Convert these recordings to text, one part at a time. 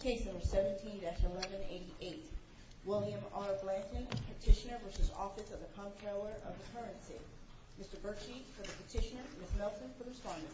the Currency. Mr. Berkshi for the petitioner, Ms. Nelson for the respondent. Mr. Berkshi for the respondent.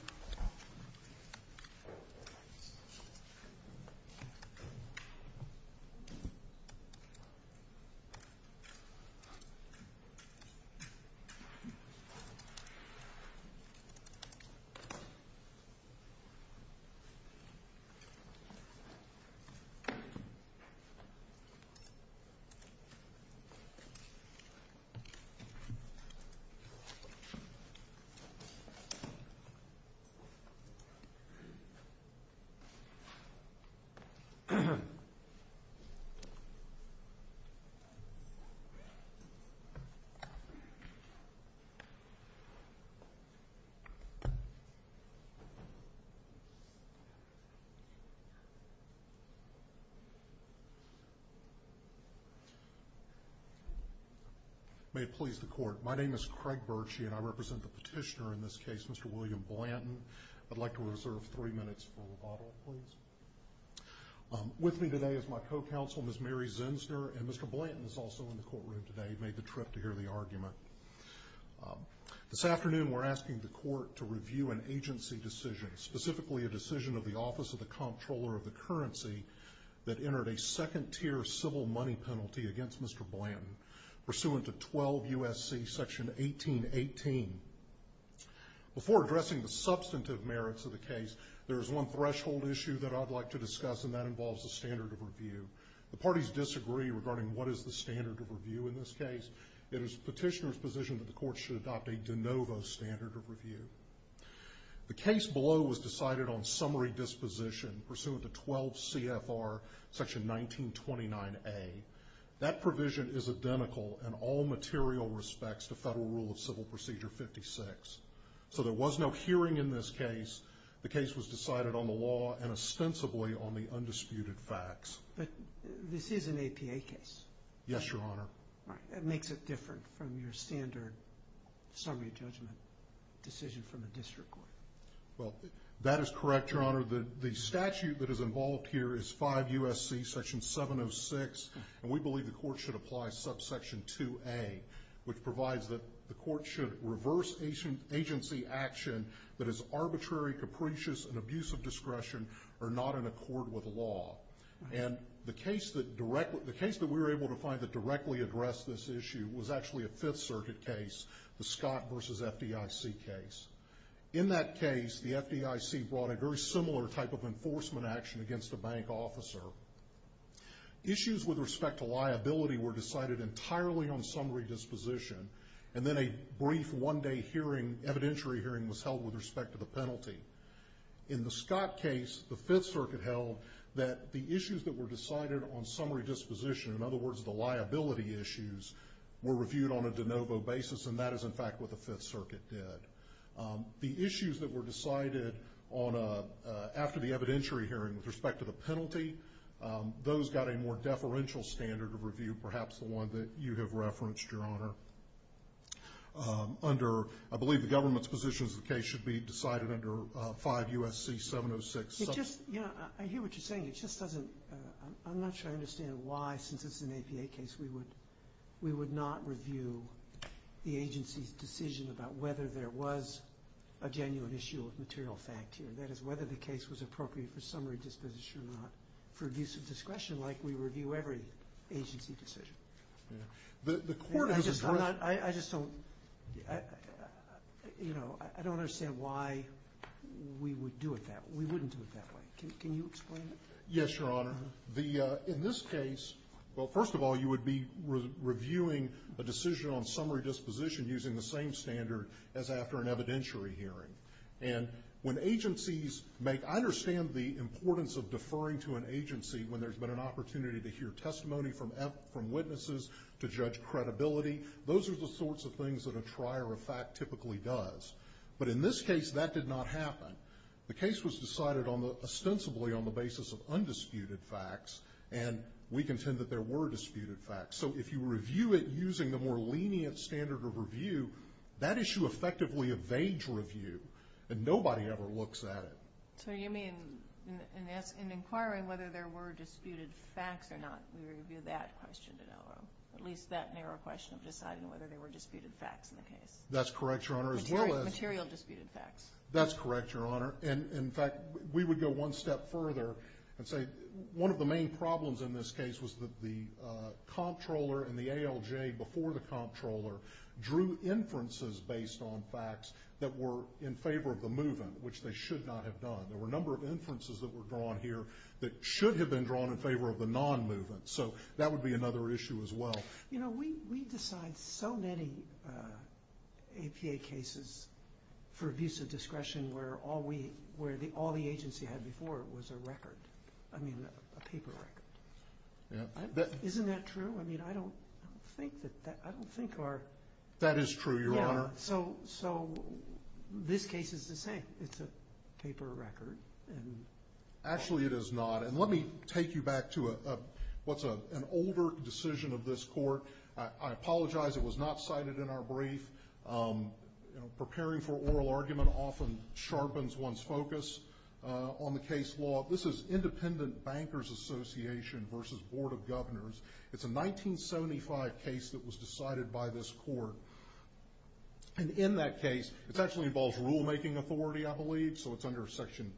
May it please the Court. My name is Craig Berkshi and I represent the petitioner in this case, Mr. William Blanton. I'd like to reserve three minutes for rebuttal, please. With me today is my co-counsel, Ms. Mary Zinsner, and Mr. Blanton is also in the courtroom today. He made the trip to hear the argument. This afternoon we're asking the Court to review an agency decision, specifically a decision of the Office of the Comptroller of the Currency that entered a second-tier civil money penalty against Mr. Blanton, pursuant to 12 U.S.C. section 1818. Before addressing the substantive merits of the case, there is one threshold issue that I'd like to discuss and that involves the standard of review. The parties disagree regarding what is the standard of review in this case. It is the petitioner's position that the Court should adopt a de novo standard of review. The case below was decided on summary disposition, pursuant to 12 CFR section 1929A. That provision is identical in all material respects to Federal Rule of Civil Procedure 56. So there was no hearing in this case. The case was decided on the law and ostensibly on the undisputed facts. But this is an APA case. Yes, Your Honor. That makes it different from your standard summary judgment decision from the district court. Well, that is correct, Your Honor. The statute that is involved here is 5 U.S.C. section 706, and we believe the Court should apply subsection 2A, which provides that the Court should reverse agency action that is arbitrary, capricious, and abuse of discretion or not in accord with law. And the case that we were able to find that directly addressed this issue was actually a Fifth Circuit case, the Scott v. FDIC case. In that case, the FDIC brought a very similar type of enforcement action against a bank officer. Issues with respect to liability were decided entirely on summary disposition, and then a brief one-day hearing, evidentiary hearing, was held with respect to the penalty. In the Scott case, the Fifth Circuit held that the issues that were decided on summary disposition, in other words, the liability issues, were reviewed on a de novo basis, and that is, in fact, what the Fifth Circuit did. The issues that were decided after the evidentiary hearing with respect to the penalty, those got a more deferential standard of review, perhaps the one that you have referenced, Your Honor. I believe the government's position is the case should be decided under 5 U.S.C. 706. I hear what you're saying. I'm not sure I understand why, since it's an APA case, we would not review the agency's decision about whether there was a genuine issue of material fact here. That is, whether the case was appropriate for summary disposition or not for abuse of discretion, like we review every agency decision. I just don't, you know, I don't understand why we would do it that way. We wouldn't do it that way. Can you explain that? Yes, Your Honor. In this case, well, first of all, you would be reviewing a decision on summary disposition using the same standard as after an evidentiary hearing. And when agencies make, I understand the importance of deferring to an agency when there's been an opportunity to hear testimony from witnesses, to judge credibility. Those are the sorts of things that a trier of fact typically does. But in this case, that did not happen. The case was decided ostensibly on the basis of undisputed facts, and we contend that there were disputed facts. So if you review it using the more lenient standard of review, that issue effectively evades review, and nobody ever looks at it. So you mean, in inquiring whether there were disputed facts or not, we review that question, at least that narrow question of deciding whether there were disputed facts in the case? That's correct, Your Honor. Material disputed facts. That's correct, Your Honor. And, in fact, we would go one step further and say one of the main problems in this case was that the comptroller and the ALJ before the comptroller drew inferences based on facts that were in favor of the move-in, which they should not have done. There were a number of inferences that were drawn here that should have been drawn in favor of the non-move-in. So that would be another issue as well. You know, we decide so many APA cases for abuse of discretion where all the agency had before it was a record, I mean, a paper record. Isn't that true? I mean, I don't think our… That is true, Your Honor. So this case is the same. It's a paper record. Actually, it is not. And let me take you back to what's an older decision of this court. I apologize it was not cited in our brief. You know, preparing for oral argument often sharpens one's focus on the case law. This is Independent Bankers Association v. Board of Governors. It's a 1975 case that was decided by this court. And in that case, it actually involves rulemaking authority, I believe, so it's under Section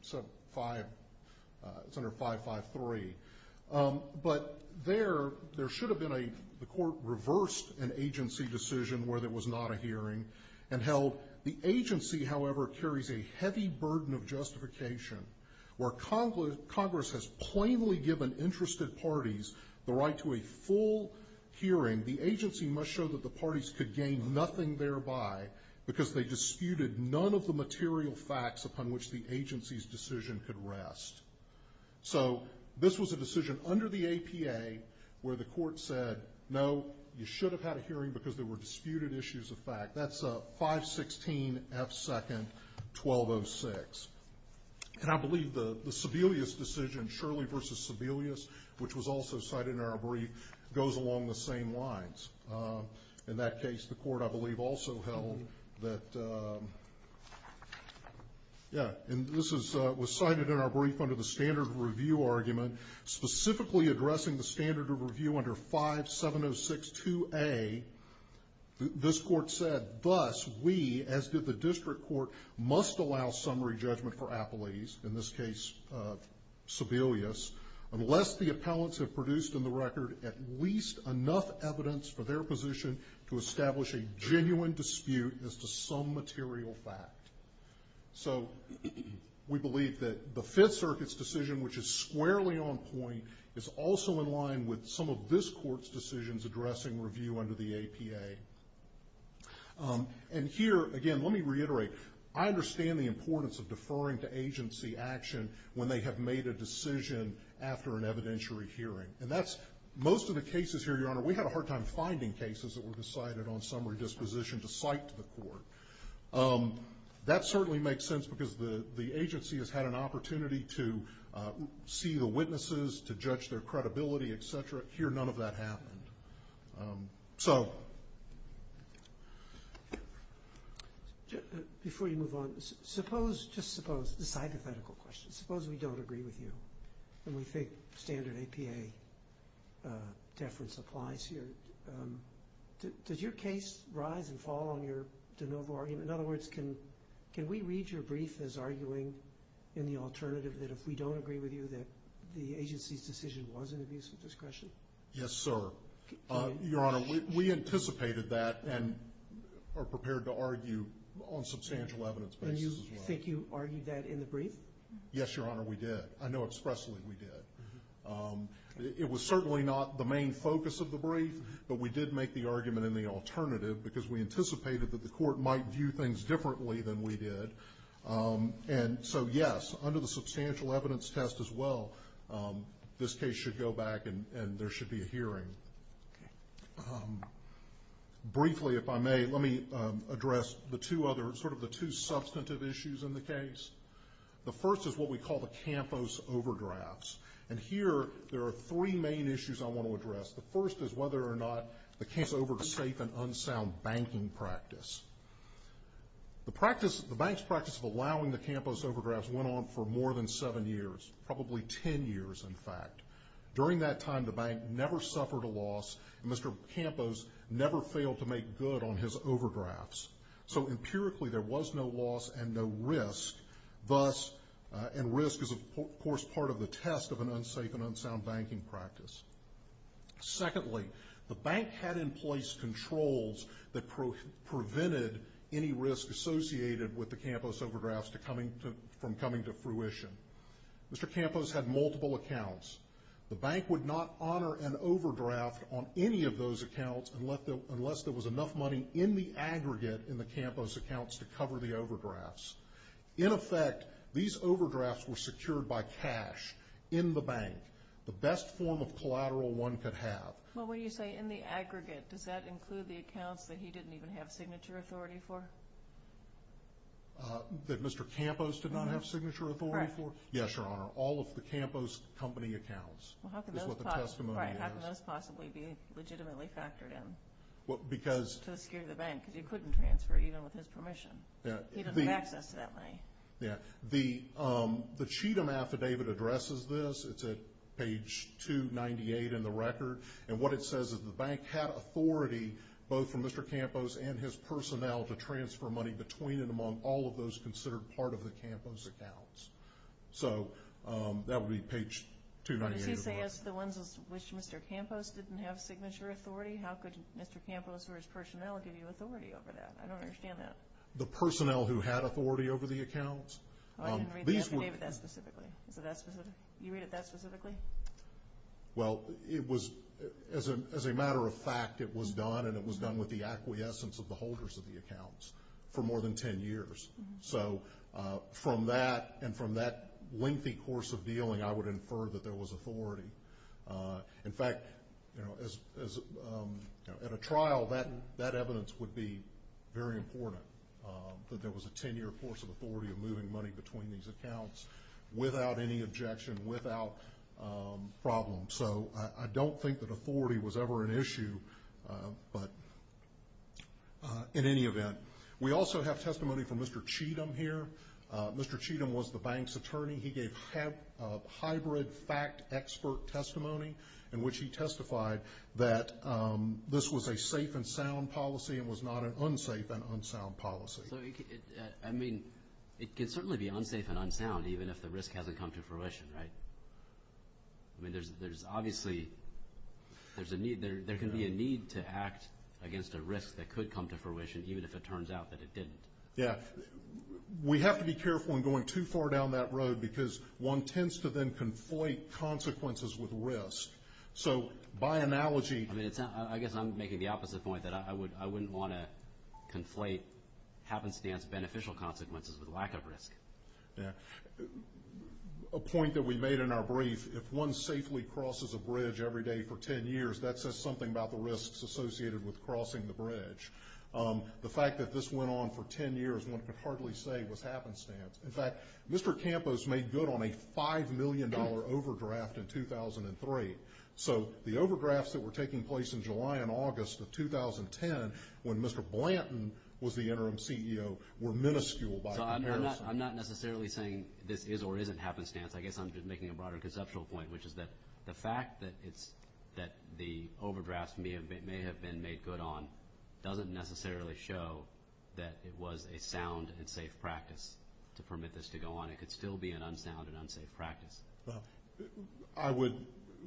5, it's under 553. But there, there should have been a, the court reversed an agency decision where there was not a hearing and held the agency, however, carries a heavy burden of justification where Congress has plainly given interested parties the right to a full hearing. The agency must show that the parties could gain nothing thereby because they disputed none of the material facts upon which the agency's decision could rest. So this was a decision under the APA where the court said, no, you should have had a hearing because there were disputed issues of fact. That's 516 F. 2nd 1206. And I believe the Sebelius decision, Shirley v. Sebelius, which was also cited in our brief, goes along the same lines. In that case, the court, I believe, also held that, yeah, and this was cited in our brief under the standard review argument, specifically addressing the standard of review under 57062A. This court said, thus, we, as did the district court, must allow summary judgment for Apolis, in this case Sebelius, unless the appellants have produced in the record at least enough evidence for their position to establish a genuine dispute as to some material fact. So we believe that the Fifth Circuit's decision, which is squarely on point, is also in line with some of this court's decisions addressing review under the APA. And here, again, let me reiterate, I understand the importance of deferring to agency action when they have made a decision after an evidentiary hearing. And that's, most of the cases here, Your Honor, we had a hard time finding cases that were decided on summary disposition to cite to the court. That certainly makes sense because the agency has had an opportunity to see the witnesses, to judge their credibility, et cetera. Here, none of that happened. So... Before you move on, suppose, just suppose, this hypothetical question, suppose we don't agree with you and we think standard APA deference applies here. Does your case rise and fall on your de novo argument? In other words, can we read your brief as arguing in the alternative that if we don't agree with you that the agency's decision was an abuse of discretion? Yes, sir. Your Honor, we anticipated that and are prepared to argue on substantial evidence basis as well. And you think you argued that in the brief? Yes, Your Honor, we did. I know expressly we did. It was certainly not the main focus of the brief, but we did make the argument in the alternative because we anticipated that the court might view things differently than we did. And so, yes, under the substantial evidence test as well, this case should go back and there should be a hearing. Briefly, if I may, let me address the two other, sort of the two substantive issues in the case. The first is what we call the Campos Overdrafts. And here there are three main issues I want to address. The first is whether or not the case over to safe and unsound banking practice. The practice, the bank's practice of allowing the Campos Overdrafts went on for more than seven years, probably ten years, in fact. During that time, the bank never suffered a loss. Mr. Campos never failed to make good on his overdrafts. So empirically, there was no loss and no risk. Thus, and risk is, of course, part of the test of an unsafe and unsound banking practice. Secondly, the bank had in place controls that prevented any risk associated with the Campos Overdrafts from coming to fruition. Mr. Campos had multiple accounts. The bank would not honor an overdraft on any of those accounts unless there was enough money in the aggregate in the Campos accounts to cover the overdrafts. In effect, these overdrafts were secured by cash in the bank, the best form of collateral one could have. Well, when you say in the aggregate, does that include the accounts that he didn't even have signature authority for? That Mr. Campos did not have signature authority for? Correct. Yes, Your Honor. All of the Campos company accounts is what the testimony is. Well, how could those possibly be legitimately factored in to secure the bank? Because he couldn't transfer even with his permission. He doesn't have access to that money. Yeah. The Cheatham Affidavit addresses this. It's at page 298 in the record. And what it says is the bank had authority, both from Mr. Campos and his personnel, to transfer money between and among all of those considered part of the Campos accounts. So that would be page 298 of the record. Does he say it's the ones which Mr. Campos didn't have signature authority? How could Mr. Campos or his personnel give you authority over that? I don't understand that. The personnel who had authority over the accounts. I can read the affidavit that specifically. Is it that specific? You read it that specifically? Well, it was, as a matter of fact, it was done, and it was done with the acquiescence of the holders of the accounts for more than 10 years. So from that and from that lengthy course of dealing, I would infer that there was authority. In fact, at a trial, that evidence would be very important, that there was a 10-year course of authority of moving money between these accounts without any objection, without problem. So I don't think that authority was ever an issue, but in any event. We also have testimony from Mr. Cheatham here. Mr. Cheatham was the bank's attorney. He gave hybrid fact expert testimony in which he testified that this was a safe and sound policy and was not an unsafe and unsound policy. So, I mean, it can certainly be unsafe and unsound even if the risk hasn't come to fruition, right? I mean, there's obviously, there can be a need to act against a risk that could come to fruition, even if it turns out that it didn't. Yeah. We have to be careful in going too far down that road because one tends to then conflate consequences with risk. So by analogy. I mean, I guess I'm making the opposite point, that I wouldn't want to conflate happenstance beneficial consequences with lack of risk. Yeah. A point that we made in our brief, if one safely crosses a bridge every day for 10 years, that says something about the risks associated with crossing the bridge. The fact that this went on for 10 years, one could hardly say was happenstance. In fact, Mr. Campos made good on a $5 million overdraft in 2003. So the overdrafts that were taking place in July and August of 2010, when Mr. Blanton was the interim CEO, were minuscule by comparison. So I'm not necessarily saying this is or isn't happenstance. I guess I'm just making a broader conceptual point, which is that the fact that the overdrafts may have been made good on doesn't necessarily show that it was a sound and safe practice to permit this to go on. It could still be an unsound and unsafe practice. I would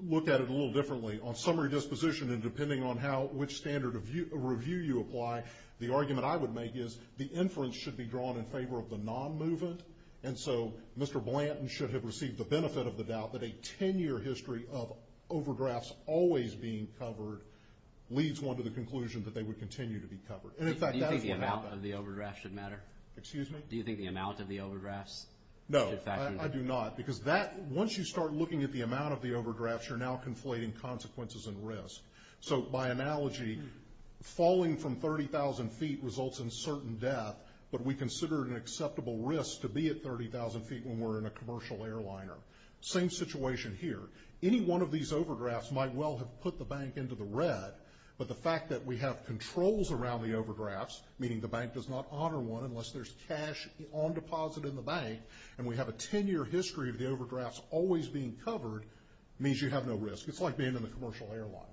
look at it a little differently. On summary disposition and depending on which standard of review you apply, the argument I would make is the inference should be drawn in favor of the non-movement, and so Mr. Blanton should have received the benefit of the doubt that a 10-year history of overdrafts always being covered leads one to the conclusion that they would continue to be covered. And, in fact, that is what happened. Do you think the amount of the overdrafts should matter? Excuse me? Do you think the amount of the overdrafts should factor in? No, I do not. Because once you start looking at the amount of the overdrafts, you're now conflating consequences and risk. So, by analogy, falling from 30,000 feet results in certain death, but we consider it an acceptable risk to be at 30,000 feet when we're in a commercial airliner. Same situation here. Any one of these overdrafts might well have put the bank into the red, but the fact that we have controls around the overdrafts, meaning the bank does not honor one unless there's cash on deposit in the bank, and we have a 10-year history of the overdrafts always being covered means you have no risk. It's like being in a commercial airliner.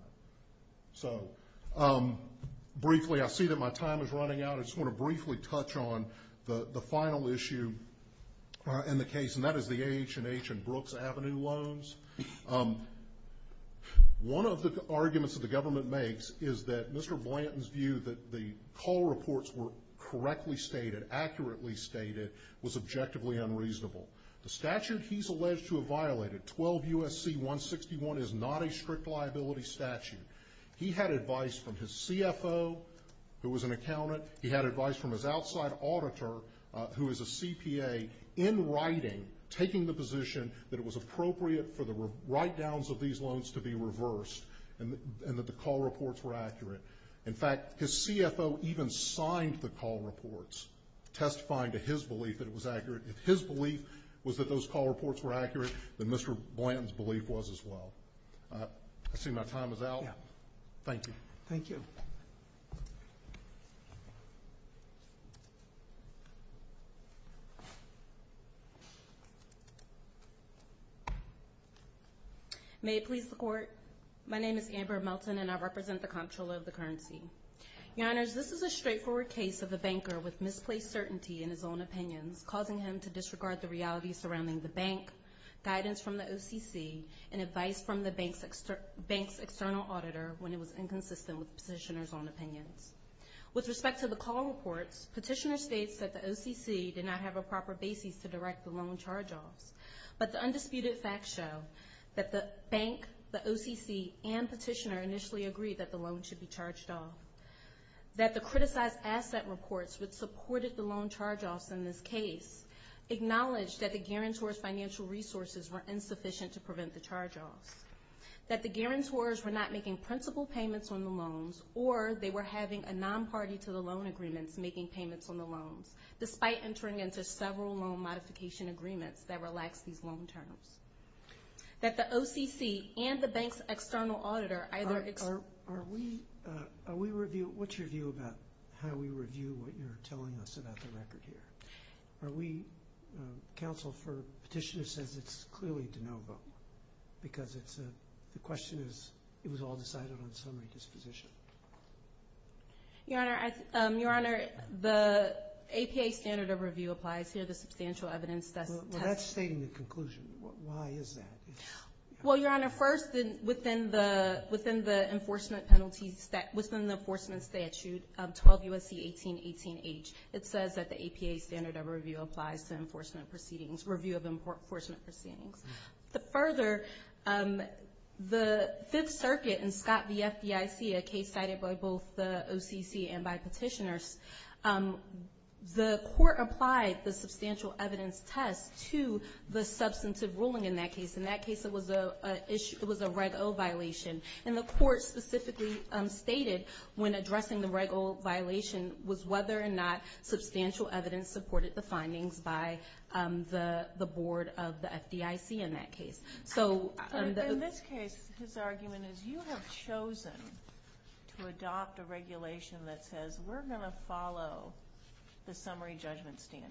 So, briefly, I see that my time is running out. I just want to briefly touch on the final issue in the case, and that is the H and H and Brooks Avenue loans. One of the arguments that the government makes is that Mr. Blanton's view that the call reports were correctly stated, accurately stated, was objectively unreasonable. The statute he's alleged to have violated, 12 U.S.C. 161, is not a strict liability statute. He had advice from his CFO, who was an accountant. He had advice from his outside auditor, who is a CPA, in writing, taking the position that it was appropriate for the write-downs of these loans to be reversed and that the call reports were accurate. In fact, his CFO even signed the call reports testifying to his belief that it was accurate. If his belief was that those call reports were accurate, then Mr. Blanton's belief was as well. I see my time is out. Thank you. Thank you. May it please the Court. My name is Amber Melton, and I represent the comptroller of the currency. Your Honors, this is a straightforward case of a banker with misplaced certainty in his own opinions, causing him to disregard the reality surrounding the bank, guidance from the OCC, and advice from the bank's external auditor when it was inconsistent with the petitioner's own opinions. With respect to the call reports, petitioner states that the OCC did not have a proper basis to direct the loan charge-offs, but the undisputed facts show that the bank, the OCC, and petitioner initially agreed that the loan should be charged off, that the criticized asset reports which supported the loan charge-offs in this case acknowledged that the guarantor's financial resources were insufficient to prevent the charge-offs, that the guarantors were not making principal payments on the loans, or they were having a non-party to the loan agreements making payments on the loans, despite entering into several loan modification agreements that relaxed these loan charge-offs, that the OCC and the bank's external auditor either ex- Are we, are we review, what's your view about how we review what you're telling us about the record here? Are we, counsel for petitioner says it's clearly de novo, because it's a, the question is, it was all decided on summary disposition. Your Honor, I, your Honor, the APA standard of review applies here, the substantial evidence test. Well, that's stating the conclusion. Why is that? Well, your Honor, first, within the, within the enforcement penalties, within the enforcement statute of 12 U.S.C. 1818H, it says that the APA standard of review applies to enforcement proceedings, review of enforcement proceedings. Further, the Fifth Circuit in Scott v. FDIC, a case cited by both the OCC and by petitioners, the court applied the substantial evidence test to the substantive ruling in that case. In that case, it was a reg O violation, and the court specifically stated when addressing the reg O violation was whether or not substantial evidence supported the findings by the board of the FDIC in that case. So, in this case, his argument is you have chosen to adopt a regulation that says, we're going to follow the summary judgment standard.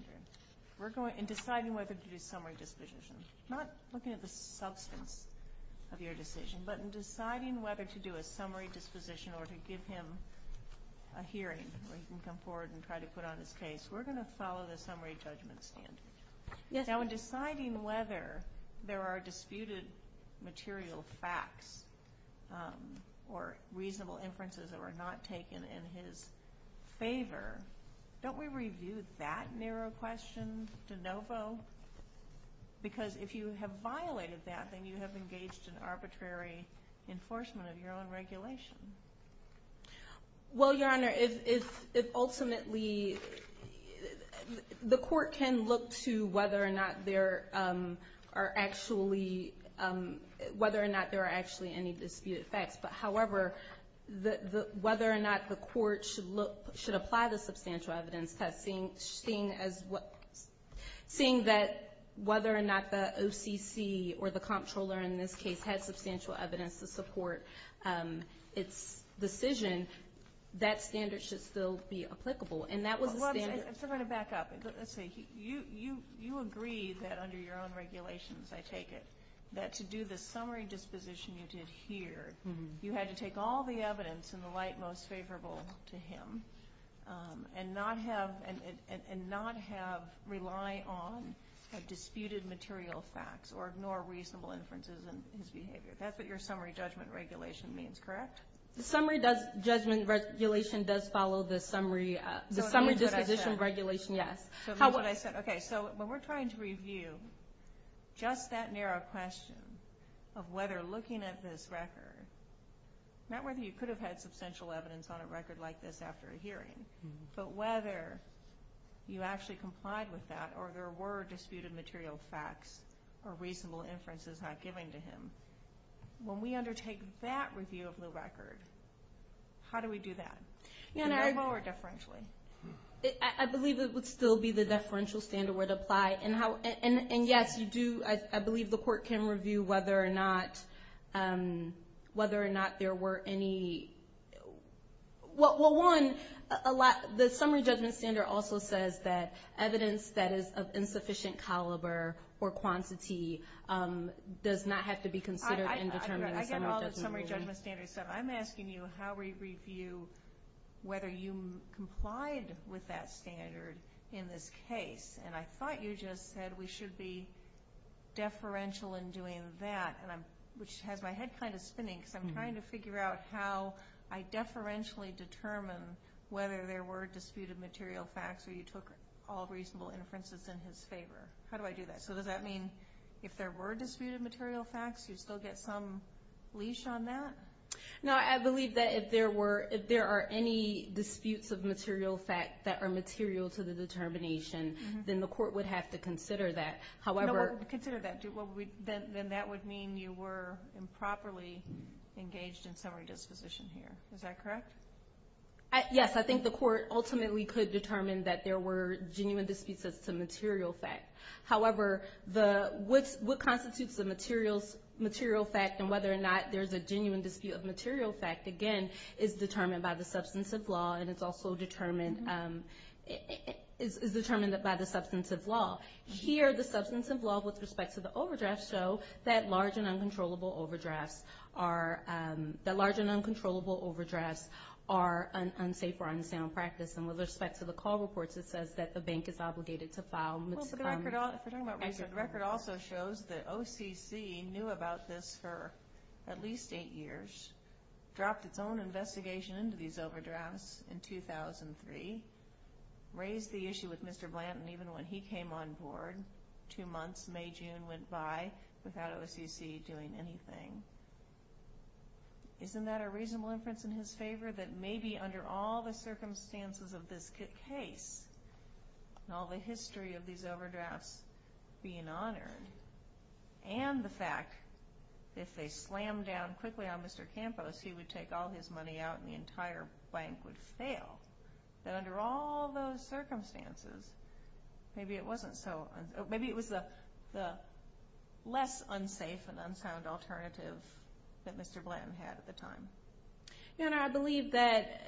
We're going, in deciding whether to do summary disposition, not looking at the substance of your decision, but in deciding whether to do a summary disposition or to give him a hearing where he can come forward and try to put on his case, we're going to follow the summary judgment standard. Now, in deciding whether there are disputed material facts or reasonable inferences that were not taken in his favor, don't we review that narrow question de novo? Because if you have violated that, then you have engaged in arbitrary enforcement of your own regulation. Well, Your Honor, if ultimately the court can look to whether or not there are actually any disputed facts, but, however, whether or not the court should apply the substantial evidence test, seeing that whether or not the OCC or the comptroller in this case had substantial evidence to support its decision, that standard should still be applicable. And that was the standard. I'm still going to back up. Let's see. You agree that under your own regulations, I take it, that to do the summary disposition you did here, you had to take all the evidence in the light most favorable to him and not rely on disputed material facts or ignore reasonable inferences in his behavior. That's what your summary judgment regulation means, correct? The summary judgment regulation does follow the summary disposition regulation, yes. Okay. So when we're trying to review just that narrow question of whether looking at this record, not whether you could have had substantial evidence on a record like this after a hearing, but whether you actually complied with that or there were disputed material facts or reasonable inferences not given to him, when we undertake that review of the record, how do we do that? Do we go forward deferentially? I believe it would still be the deferential standard would apply. And, yes, you do. I believe the court can review whether or not there were any. Well, one, the summary judgment standard also says that evidence that is of insufficient caliber or quantity does not have to be considered in determining the summary judgment rule. I get all the summary judgment standards. So I'm asking you how we review whether you complied with that standard in this case. And I thought you just said we should be deferential in doing that, which has my head kind of spinning because I'm trying to figure out how I deferentially determine whether there were disputed material facts or you took all reasonable inferences in his favor. How do I do that? So does that mean if there were disputed material facts, you still get some leash on that? No, I believe that if there are any disputes of material fact that are material to the determination, then the court would have to consider that. Consider that. Then that would mean you were improperly engaged in summary disposition here. Is that correct? Yes, I think the court ultimately could determine that there were genuine disputes as to material fact. However, what constitutes the material fact and whether or not there's a genuine dispute of material fact, again, is determined by the substantive law, and it's also determined by the substantive law. Here, the substantive law with respect to the overdrafts show that large and uncontrollable overdrafts are unsafe or unsound practice. And with respect to the call reports, it says that the bank is obligated to file. The record also shows that OCC knew about this for at least eight years, dropped its own investigation into these overdrafts in 2003, raised the issue with Mr. Blanton even when he came on board. Two months, May-June went by without OCC doing anything. Isn't that a reasonable inference in his favor that maybe under all the circumstances of this case and all the history of these overdrafts being honored and the fact that if they slammed down quickly on Mr. Campos, he would take all his money out and the entire bank would fail, that under all those circumstances, maybe it was the less unsafe and unsound alternative that Mr. Blanton had at the time? I believe that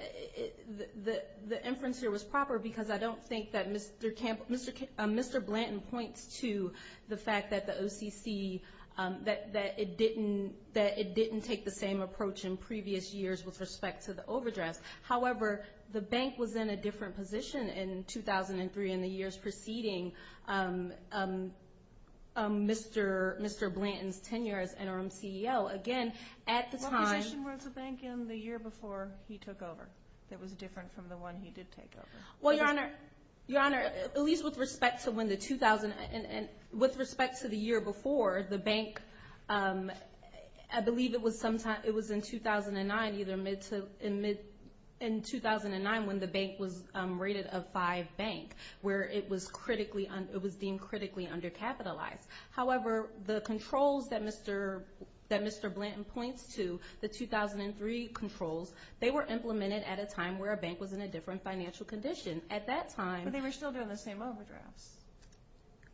the inference here was proper because I don't think that Mr. Blanton points to the fact that the OCC, that it didn't take the same approach in previous years with respect to the overdrafts. However, the bank was in a different position in 2003 in the years preceding Mr. Blanton's tenure as NRM CEO. Again, at the time- What position was the bank in the year before he took over that was different from the one he did take over? Well, Your Honor, at least with respect to the year before, the bank, I believe it was in 2009 when the bank was rated a five bank, where it was deemed critically undercapitalized. However, the controls that Mr. Blanton points to, the 2003 controls, they were implemented at a time where a bank was in a different financial condition. At that time- But they were still doing the same overdrafts.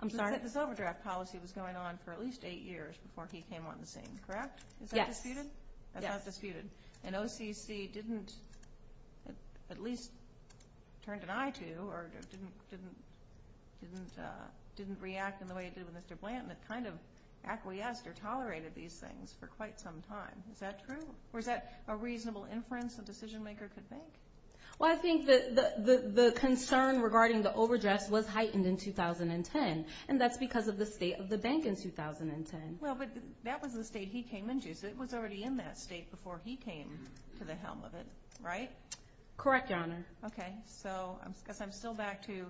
I'm sorry? This overdraft policy was going on for at least eight years before he came on the scene, correct? Yes. Is that disputed? Yes. That's not disputed. And OCC didn't at least turn an eye to or didn't react in the way it did with Mr. Blanton. It kind of acquiesced or tolerated these things for quite some time. Is that true? Or is that a reasonable inference a decision-maker could make? Well, I think the concern regarding the overdrafts was heightened in 2010, and that's because of the state of the bank in 2010. Well, but that was the state he came into, so it was already in that state before he came to the helm of it, right? Correct, Your Honor. Okay. So I guess I'm still back to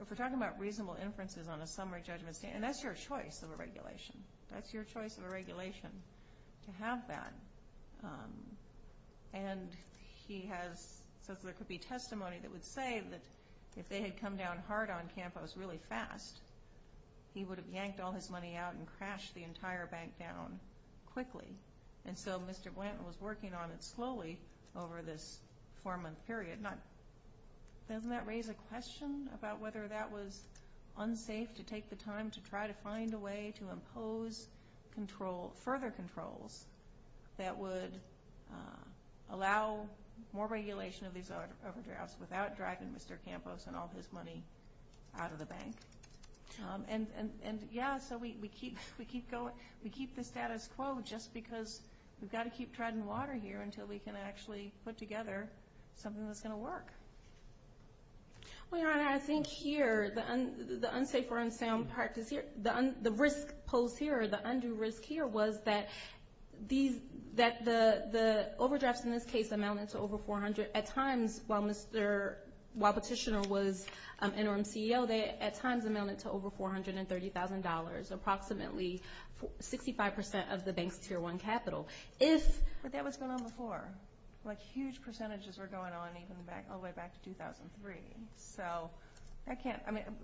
if we're talking about reasonable inferences on a summary judgment, and that's your choice of a regulation. That's your choice of a regulation to have that. And he says there could be testimony that would say that if they had come down hard on Campos really fast, he would have yanked all his money out and crashed the entire bank down quickly. And so Mr. Blanton was working on it slowly over this four-month period. Doesn't that raise a question about whether that was unsafe to take the time to try to find a way to impose further controls that would allow more regulation of these overdrafts without dragging Mr. Campos and all his money out of the bank? And, yeah, so we keep the status quo just because we've got to keep treading water here until we can actually put together something that's going to work. Well, Your Honor, I think here the unsafe or unsound practice here, the risk posed here, the undue risk here was that the overdrafts in this case amounted to over $400,000. At times, while Petitioner was interim CEO, they at times amounted to over $430,000, approximately 65 percent of the bank's Tier 1 capital. But that was going on before. Like huge percentages were going on all the way back to 2003. So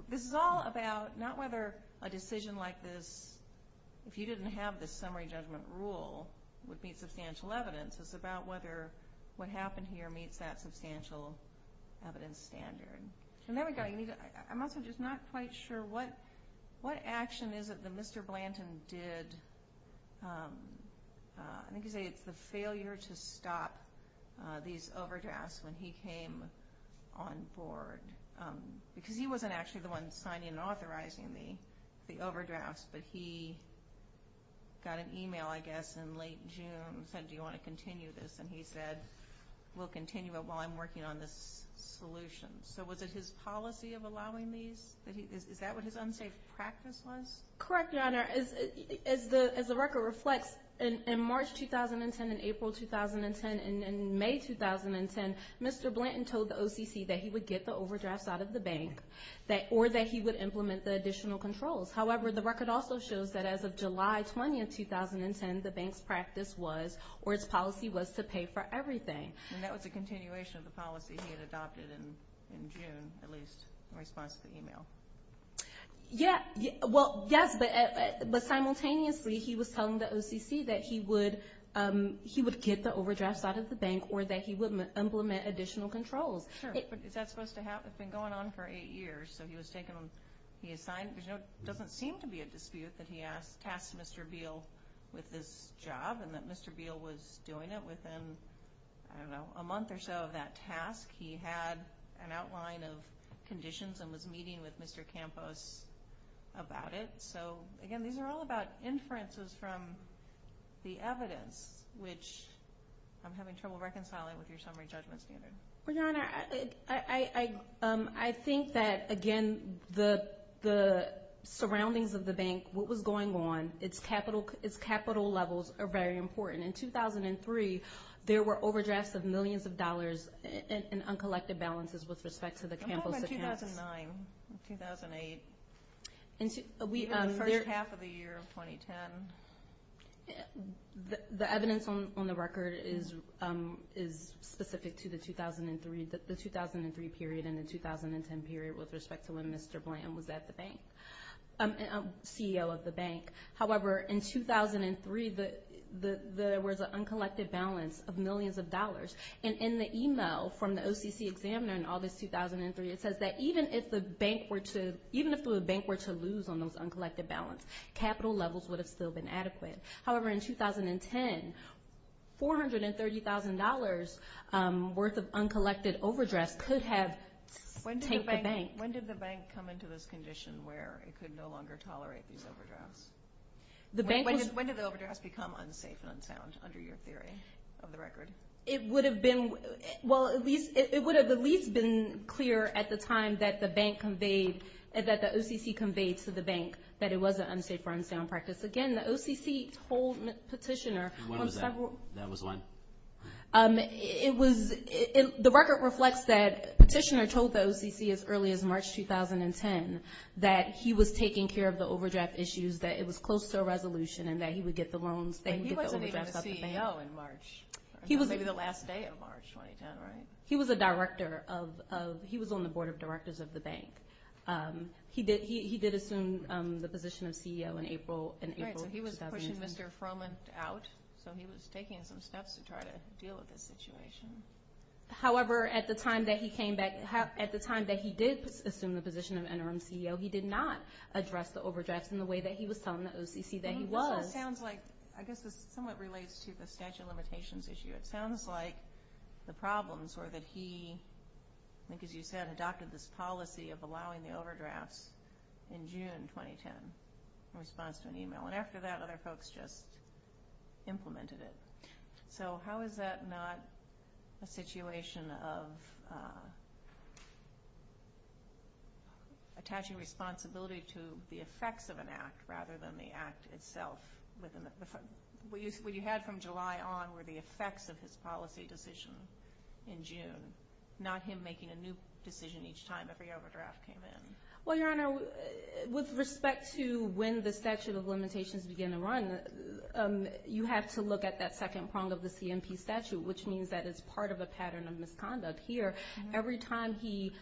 this is all about not whether a decision like this, if you didn't have this summary judgment rule, would meet substantial evidence. It's about whether what happened here meets that substantial evidence standard. I'm also just not quite sure what action is it that Mr. Blanton did. I think you say it's the failure to stop these overdrafts when he came on board. Because he wasn't actually the one signing and authorizing the overdrafts, but he got an email, I guess, in late June and said, do you want to continue this? And he said, we'll continue it while I'm working on this solution. So was it his policy of allowing these? Is that what his unsafe practice was? Correct, Your Honor. As the record reflects, in March 2010 and April 2010 and May 2010, Mr. Blanton told the OCC that he would get the overdrafts out of the bank or that he would implement the additional controls. However, the record also shows that as of July 20, 2010, the bank's practice was, or its policy was, to pay for everything. And that was a continuation of the policy he had adopted in June, at least in response to the email. Yeah, well, yes, but simultaneously he was telling the OCC that he would get the overdrafts out of the bank or that he would implement additional controls. Sure, but is that supposed to happen? It's been going on for eight years, so he was taking them, he assigned them. There doesn't seem to be a dispute that he tasked Mr. Beal with this job and that Mr. Beal was doing it within, I don't know, a month or so of that task. He had an outline of conditions and was meeting with Mr. Campos about it. So, again, these are all about inferences from the evidence, which I'm having trouble reconciling with your summary judgment standard. Well, Your Honor, I think that, again, the surroundings of the bank, what was going on, its capital levels are very important. In 2003, there were overdrafts of millions of dollars in uncollected balances with respect to the Campos accounts. I'm talking about 2009, 2008, even the first half of the year of 2010. The evidence on the record is specific to the 2003 period and the 2010 period with respect to when Mr. Blanton was at the bank, CEO of the bank. However, in 2003, there was an uncollected balance of millions of dollars. And in the email from the OCC examiner in August 2003, it says that even if the bank were to lose on those uncollected balance, capital levels would have still been adequate. However, in 2010, $430,000 worth of uncollected overdrafts could have taken the bank. When did the bank come into this condition where it could no longer tolerate these overdrafts? When did the overdrafts become unsafe and unsound under your theory of the record? It would have at least been clear at the time that the OCC conveyed to the bank that it was an unsafe or unsound practice. Again, the OCC told Petitioner on several— When was that? That was when? It was—the record reflects that Petitioner told the OCC as early as March 2010 that he was taking care of the overdraft issues, that it was close to a resolution, and that he would get the loans— But he wasn't even a CEO in March. He was— Maybe the last day of March 2010, right? He was a director of—he was on the board of directors of the bank. He did assume the position of CEO in April— Right, so he was pushing Mr. Froman out, so he was taking some steps to try to deal with this situation. However, at the time that he came back—at the time that he did assume the position of interim CEO, he did not address the overdrafts in the way that he was telling the OCC that he was. It sounds like—I guess this somewhat relates to the statute of limitations issue. It sounds like the problems were that he, I think as you said, adopted this policy of allowing the overdrafts in June 2010 in response to an email. And after that, other folks just implemented it. So how is that not a situation of attaching responsibility to the effects of an act rather than the act itself? What you had from July on were the effects of his policy decision in June, not him making a new decision each time every overdraft came in. Well, Your Honor, with respect to when the statute of limitations began to run, you have to look at that second prong of the CMP statute, which means that it's part of a pattern of misconduct here. Every time he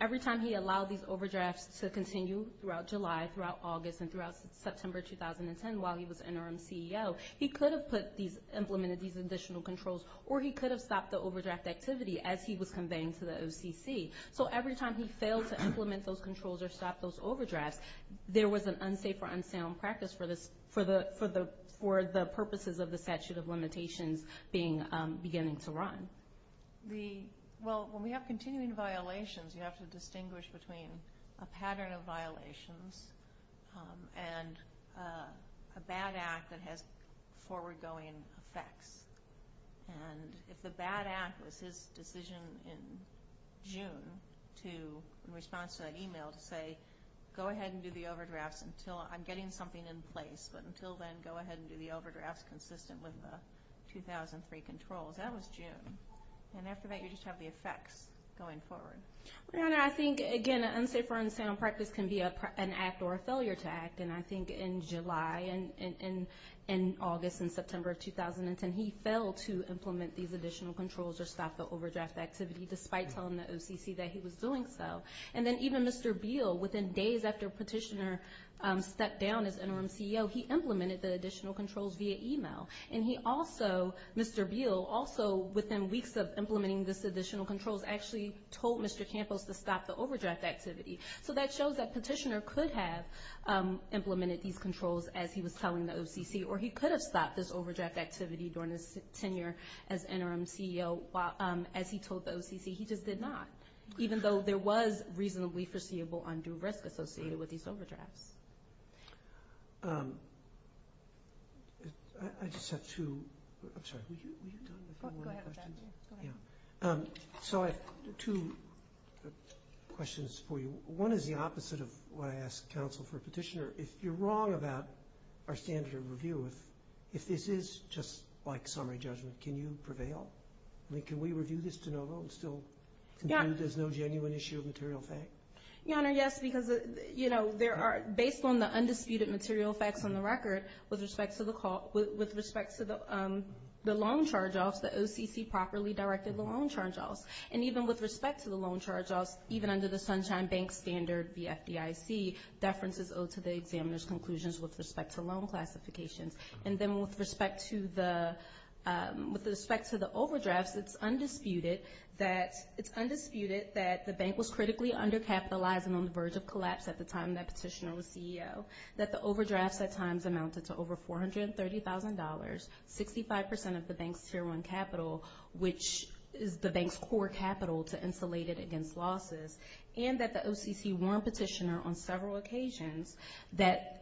allowed these overdrafts to continue throughout July, throughout August, and throughout September 2010 while he was interim CEO, he could have put these—implemented these additional controls, or he could have stopped the overdraft activity as he was conveying to the OCC. So every time he failed to implement those controls or stop those overdrafts, there was an unsafe or unsound practice for the purposes of the statute of limitations beginning to run. Well, when we have continuing violations, and a bad act that has forward-going effects, and if the bad act was his decision in June to, in response to that email, to say, go ahead and do the overdrafts until I'm getting something in place, but until then, go ahead and do the overdrafts consistent with the 2003 controls, that was June. And after that, you just have the effects going forward. Your Honor, I think, again, an unsafe or unsound practice can be an act or a failure to act. And I think in July and August and September of 2010, he failed to implement these additional controls or stop the overdraft activity, despite telling the OCC that he was doing so. And then even Mr. Beal, within days after Petitioner stepped down as interim CEO, he implemented the additional controls via email. And he also—Mr. Beal also, within weeks of implementing these additional controls, actually told Mr. Campos to stop the overdraft activity. So that shows that Petitioner could have implemented these controls as he was telling the OCC, or he could have stopped this overdraft activity during his tenure as interim CEO. As he told the OCC, he just did not, even though there was reasonably foreseeable undue risk associated with these overdrafts. I just have two—I'm sorry, were you done with your morning questions? Go ahead with that. So I have two questions for you. One is the opposite of what I asked counsel for Petitioner. If you're wrong about our standard of review, if this is just like summary judgment, can you prevail? I mean, can we review this de novo and still conclude there's no genuine issue of material fact? Your Honor, yes, because, you know, there are—based on the undisputed material facts on the record, with respect to the loan charge-offs, the OCC properly directed the loan charge-offs. And even with respect to the loan charge-offs, even under the Sunshine Bank standard, BFDIC, deference is owed to the examiner's conclusions with respect to loan classifications. And then with respect to the overdrafts, it's undisputed that the bank was critically undercapitalized and on the verge of collapse at the time that Petitioner was CEO, that the overdrafts at times amounted to over $430,000, 65% of the bank's tier one capital, which is the bank's core capital to insulate it against losses, and that the OCC warned Petitioner on several occasions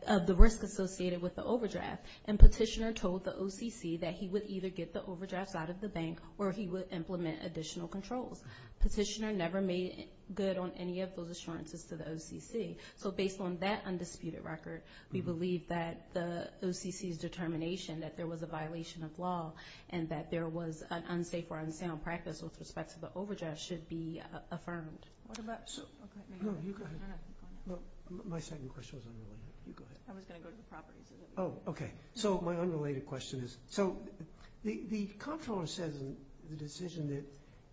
of the risk associated with the overdraft. And Petitioner told the OCC that he would either get the overdrafts out of the bank or he would implement additional controls. Petitioner never made good on any of those assurances to the OCC. So based on that undisputed record, we believe that the OCC's determination that there was a violation of law and that there was an unsafe or unsound practice with respect to the overdraft should be affirmed. My second question was unrelated. I was going to go to the properties. Oh, okay. So my unrelated question is, so the comptroller says in the decision that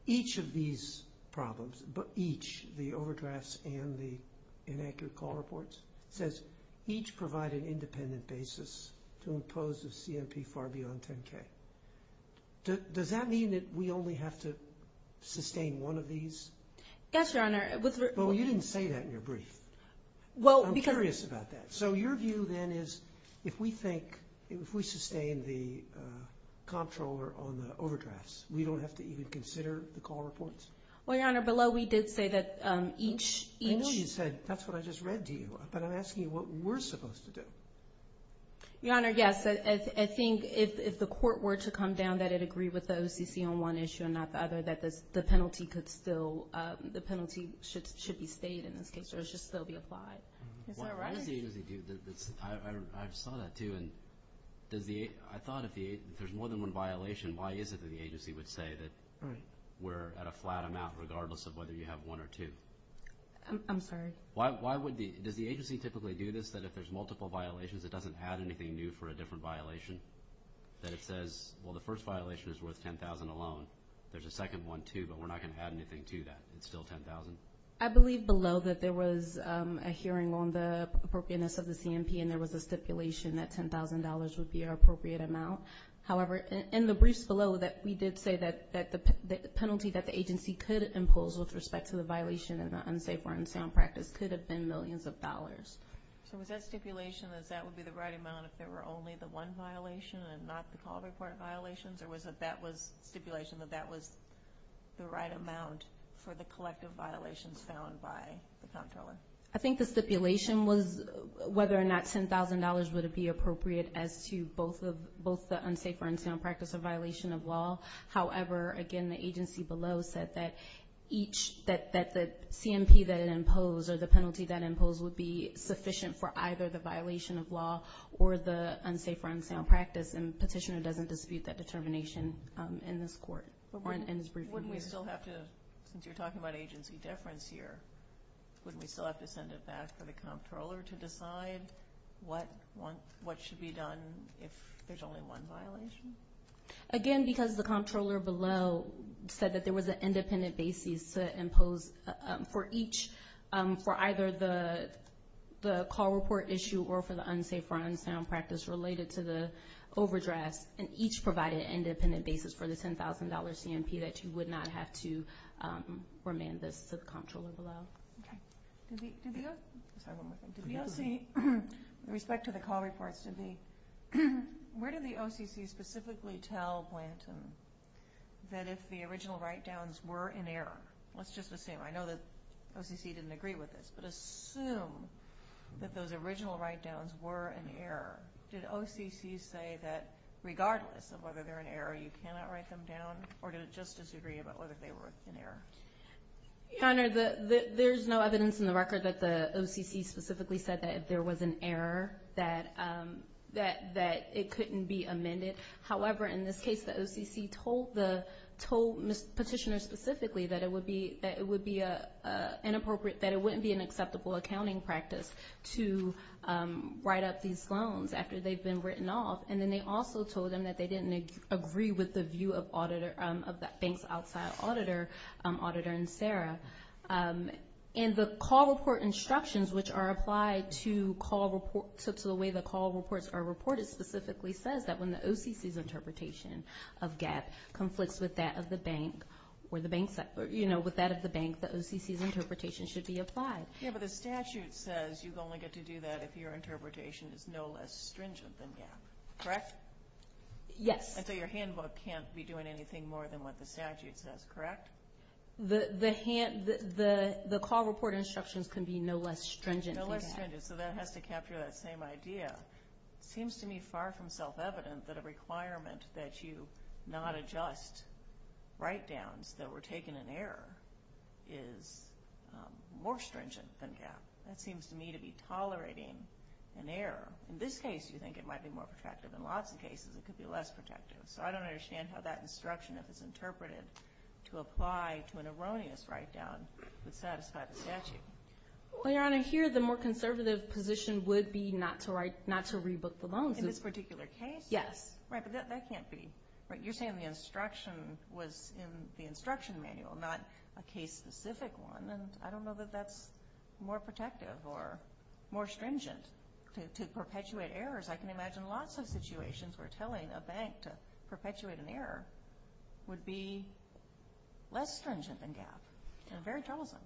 each of these problems, each, the overdrafts and the inaccurate call reports, says each provide an independent basis to impose a CMP far beyond $10K. Does that mean that we only have to sustain one of these? Yes, Your Honor. Well, you didn't say that in your brief. I'm curious about that. So your view then is if we think, if we sustain the comptroller on the overdrafts, we don't have to even consider the call reports? Well, Your Honor, below we did say that each. I know you said, that's what I just read to you, but I'm asking you what we're supposed to do. Your Honor, yes. I think if the court were to come down that it agreed with the OCC on one issue and not the other, that the penalty could still, the penalty should be stayed in this case, or it should still be applied. Why does the agency do this? I saw that too, and I thought if there's more than one violation, why is it that the agency would say that we're at a flat amount, regardless of whether you have one or two? I'm sorry? Why would the, does the agency typically do this, that if there's multiple violations it doesn't add anything new for a different violation? That it says, well, the first violation is worth $10,000 alone. There's a second one too, but we're not going to add anything to that. It's still $10,000. I believe below that there was a hearing on the appropriateness of the CMP, and there was a stipulation that $10,000 would be our appropriate amount. However, in the briefs below, we did say that the penalty that the agency could impose with respect to the violation and the unsafe or unsound practice could have been millions of dollars. So was that stipulation that that would be the right amount if there were only the one violation and not the call-to-court violations, or was that stipulation that that was the right amount for the collective violations found by the comptroller? I think the stipulation was whether or not $10,000 would be appropriate as to both the unsafe or unsound practice or violation of law. However, again, the agency below said that the CMP that it imposed or the penalty that it imposed would be sufficient for either the violation of law or the unsafe or unsound practice, and the petitioner doesn't dispute that determination in this court. Wouldn't we still have to, since you're talking about agency deference here, wouldn't we still have to send it back for the comptroller to decide what should be done if there's only one violation? Again, because the comptroller below said that there was an independent basis to impose for either the call report issue or for the unsafe or unsound practice related to the overdrafts, and each provided an independent basis for the $10,000 CMP that you would not have to remand this to the comptroller below. Did the OCC, with respect to the call reports, where did the OCC specifically tell Blanton that if the original write-downs were in error? Let's just assume. I know that OCC didn't agree with this, but assume that those original write-downs were in error. Did OCC say that regardless of whether they're in error, you cannot write them down, or did it just disagree about whether they were in error? Your Honor, there's no evidence in the record that the OCC specifically said that if there was an error that it couldn't be amended. However, in this case, the OCC told Petitioner specifically that it would be inappropriate, that it wouldn't be an acceptable accounting practice to write up these loans after they've been written off, and then they also told them that they didn't agree with the view of the bank's outside auditor, Auditor and Sarah. And the call report instructions, which are applied to the way the call reports are reported, specifically says that when the OCC's interpretation of GAAP conflicts with that of the bank, the OCC's interpretation should be applied. Yeah, but the statute says you only get to do that if your interpretation is no less stringent than GAAP, correct? Yes. And so your handbook can't be doing anything more than what the statute says, correct? The call report instructions can be no less stringent than GAAP. No less stringent, so that has to capture that same idea. It seems to me far from self-evident that a requirement that you not adjust write-downs that were taken in error is more stringent than GAAP. That seems to me to be tolerating an error. In this case, you think it might be more protective. In lots of cases, it could be less protective. So I don't understand how that instruction, if it's interpreted, to apply to an erroneous write-down would satisfy the statute. Well, Your Honor, here the more conservative position would be not to rebook the loans. In this particular case? Yes. Right, but that can't be. You're saying the instruction was in the instruction manual, not a case-specific one, and I don't know that that's more protective or more stringent to perpetuate errors. I can imagine lots of situations where telling a bank to perpetuate an error would be less stringent than GAAP and very tolerable.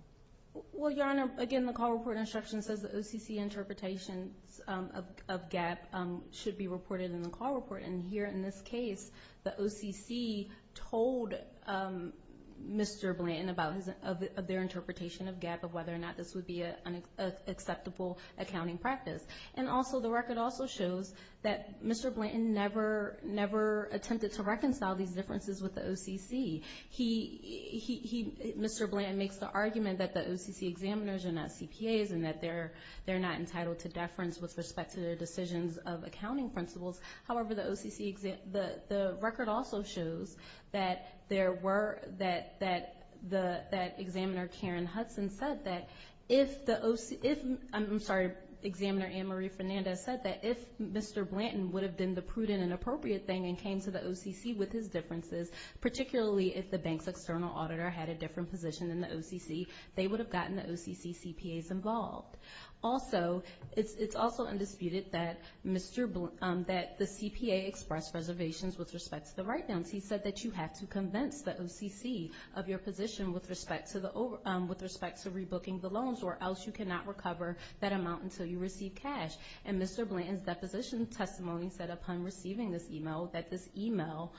Well, Your Honor, again, the call report instruction says the OCC interpretation of GAAP should be reported in the call report, and here in this case, the OCC told Mr. Blanton of their interpretation of GAAP of whether or not this would be an acceptable accounting practice. And also the record also shows that Mr. Blanton never attempted to reconcile these differences with the OCC. Mr. Blanton makes the argument that the OCC examiners are not CPAs and that they're not entitled to deference with respect to their decisions of accounting principles. However, the record also shows that the examiner, Karen Hudson, said that if Mr. Blanton would have been the prudent and appropriate thing and came to the OCC with his differences, particularly if the bank's external auditor had a different position than the OCC, they would have gotten the OCC CPAs involved. Also, it's also undisputed that the CPA expressed reservations with respect to the write-downs. He said that you have to convince the OCC of your position with respect to rebooking the loans, or else you cannot recover that amount until you receive cash. And Mr. Blanton's deposition testimony said upon receiving this email that this email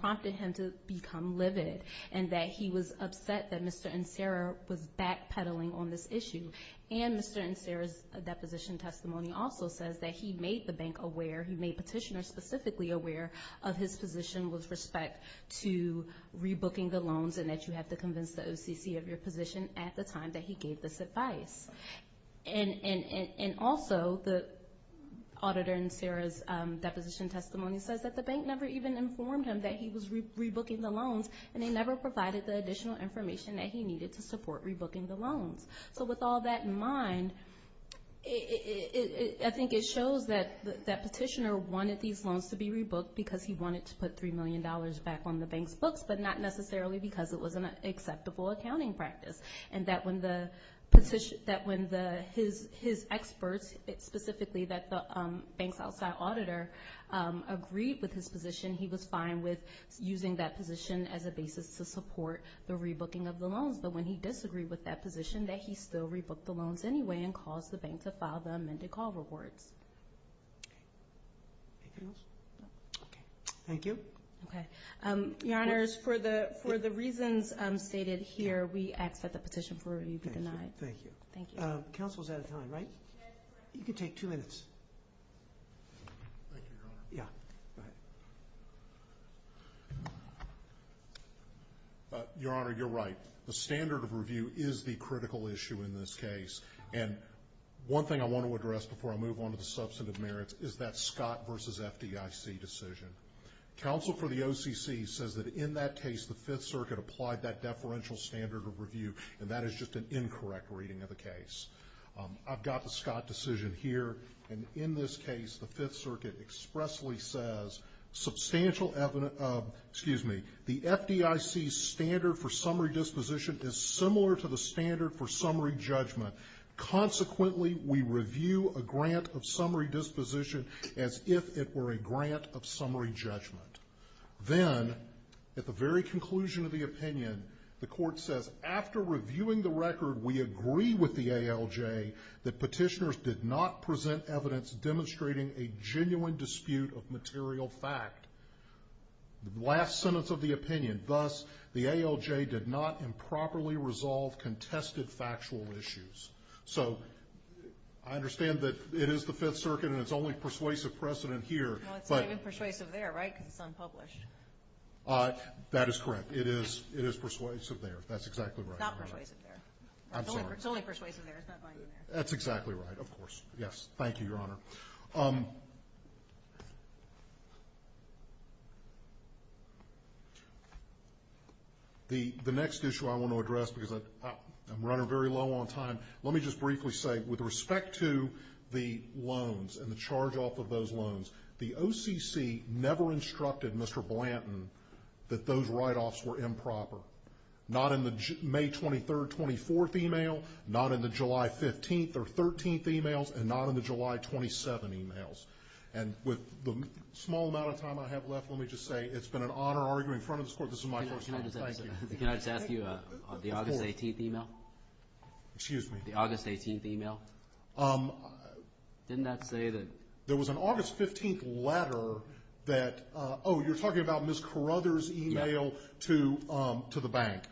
prompted him to become livid and that he was upset that Mr. Ancero was backpedaling on this issue. And Mr. Ancero's deposition testimony also says that he made the bank aware, he made petitioners specifically aware of his position with respect to rebooking the loans and that you have to convince the OCC of your position at the time that he gave this advice. And also, the auditor in Sarah's deposition testimony says that the bank never even informed him that he was rebooking the loans, and they never provided the additional information that he needed to support rebooking the loans. So with all that in mind, I think it shows that that petitioner wanted these loans to be rebooked because he wanted to put $3 million back on the bank's books, but not necessarily because it was an acceptable accounting practice. And that when his experts, specifically the bank's outside auditor, agreed with his position, he was fine with using that position as a basis to support the rebooking of the loans. But when he disagreed with that position, that he still rebooked the loans anyway and caused the bank to file the amended call rewards. Anything else? Okay. Thank you. Okay. Your Honors, for the reasons stated here, we ask that the petition for review be denied. Thank you. Thank you. Counsel is out of time, right? You can take two minutes. Thank you, Your Honor. Yeah, go ahead. Your Honor, you're right. The standard of review is the critical issue in this case. And one thing I want to address before I move on to the substantive merits is that Scott versus FDIC decision. Counsel for the OCC says that in that case, the Fifth Circuit applied that deferential standard of review, and that is just an incorrect reading of the case. I've got the Scott decision here. And in this case, the Fifth Circuit expressly says, excuse me, the FDIC standard for summary disposition is similar to the standard for summary judgment. Consequently, we review a grant of summary disposition as if it were a grant of summary judgment. Then, at the very conclusion of the opinion, the court says, after reviewing the record, we agree with the ALJ that petitioners did not dispute of material fact. The last sentence of the opinion, thus, the ALJ did not improperly resolve contested factual issues. So I understand that it is the Fifth Circuit, and it's only persuasive precedent here. No, it's not even persuasive there, right, because it's unpublished. That is correct. It is persuasive there. That's exactly right. It's not persuasive there. I'm sorry. It's only persuasive there. It's not binding there. That's exactly right, of course. Yes, thank you, Your Honor. The next issue I want to address, because I'm running very low on time, let me just briefly say, with respect to the loans and the charge-off of those loans, the OCC never instructed Mr. Blanton that those write-offs were improper. Not in the May 23rd, 24th email. Not in the July 15th or 13th emails. And not in the July 27 emails. And with the small amount of time I have left, let me just say, it's been an honor arguing in front of this Court. This is my first time. Thank you. Can I just ask you on the August 18th email? Excuse me? The August 18th email. Didn't that say that? There was an August 15th letter that, oh, you're talking about Ms. Carruthers' email to the bank.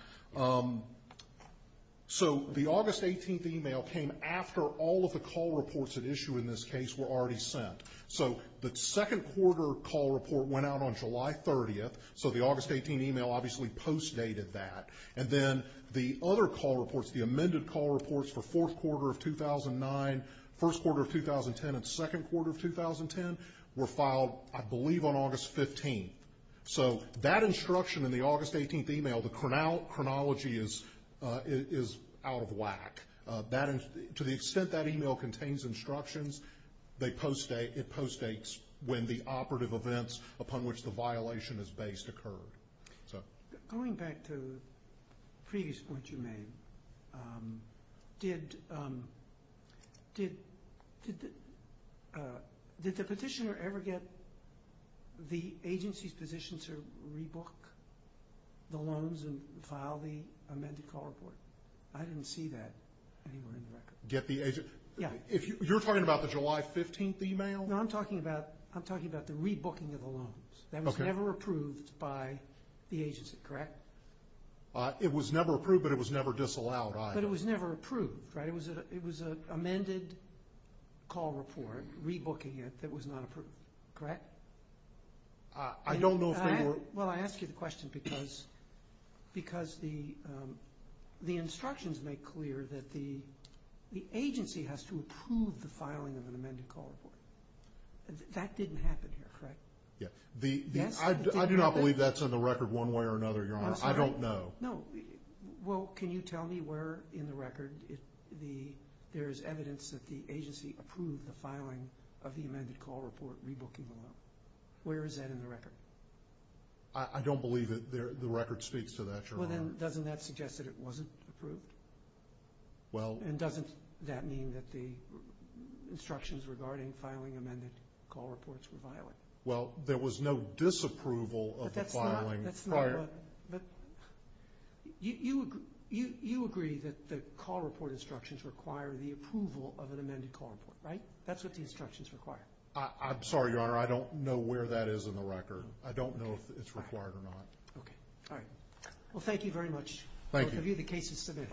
So the August 18th email came after all of the call reports at issue in this case were already sent. So the second quarter call report went out on July 30th, so the August 18th email obviously post-dated that. And then the other call reports, the amended call reports for fourth quarter of 2009, first quarter of 2010, and second quarter of 2010, were filed, I believe, on August 15th. So that instruction in the August 18th email, the chronology is out of whack. To the extent that email contains instructions, it post-dates when the operative events upon which the violation is based occurred. Going back to the previous point you made, did the petitioner ever get the agency's position to rebook the loans and file the amended call report? I didn't see that anywhere in the record. You're talking about the July 15th email? No, I'm talking about the rebooking of the loans. That was never approved by the agency, correct? It was never approved, but it was never disallowed. But it was never approved, right? It was an amended call report, rebooking it, that was not approved, correct? I don't know if they were. Well, I ask you the question because the instructions make clear that the agency has to approve the filing of an amended call report. That didn't happen here, correct? I do not believe that's in the record one way or another, Your Honor, I don't know. No, well, can you tell me where in the record there is evidence that the agency approved the filing of the amended call report, rebooking the loan? Where is that in the record? I don't believe that the record speaks to that, Your Honor. Well, then doesn't that suggest that it wasn't approved? And doesn't that mean that the instructions regarding filing amended call reports were violated? Well, there was no disapproval of the filing prior. You agree that the call report instructions require the approval of an amended call report, right? That's what the instructions require. I'm sorry, Your Honor, I don't know where that is in the record. I don't know if it's required or not. Okay, all right. Well, thank you very much. Thank you. Both of you, the case is submitted.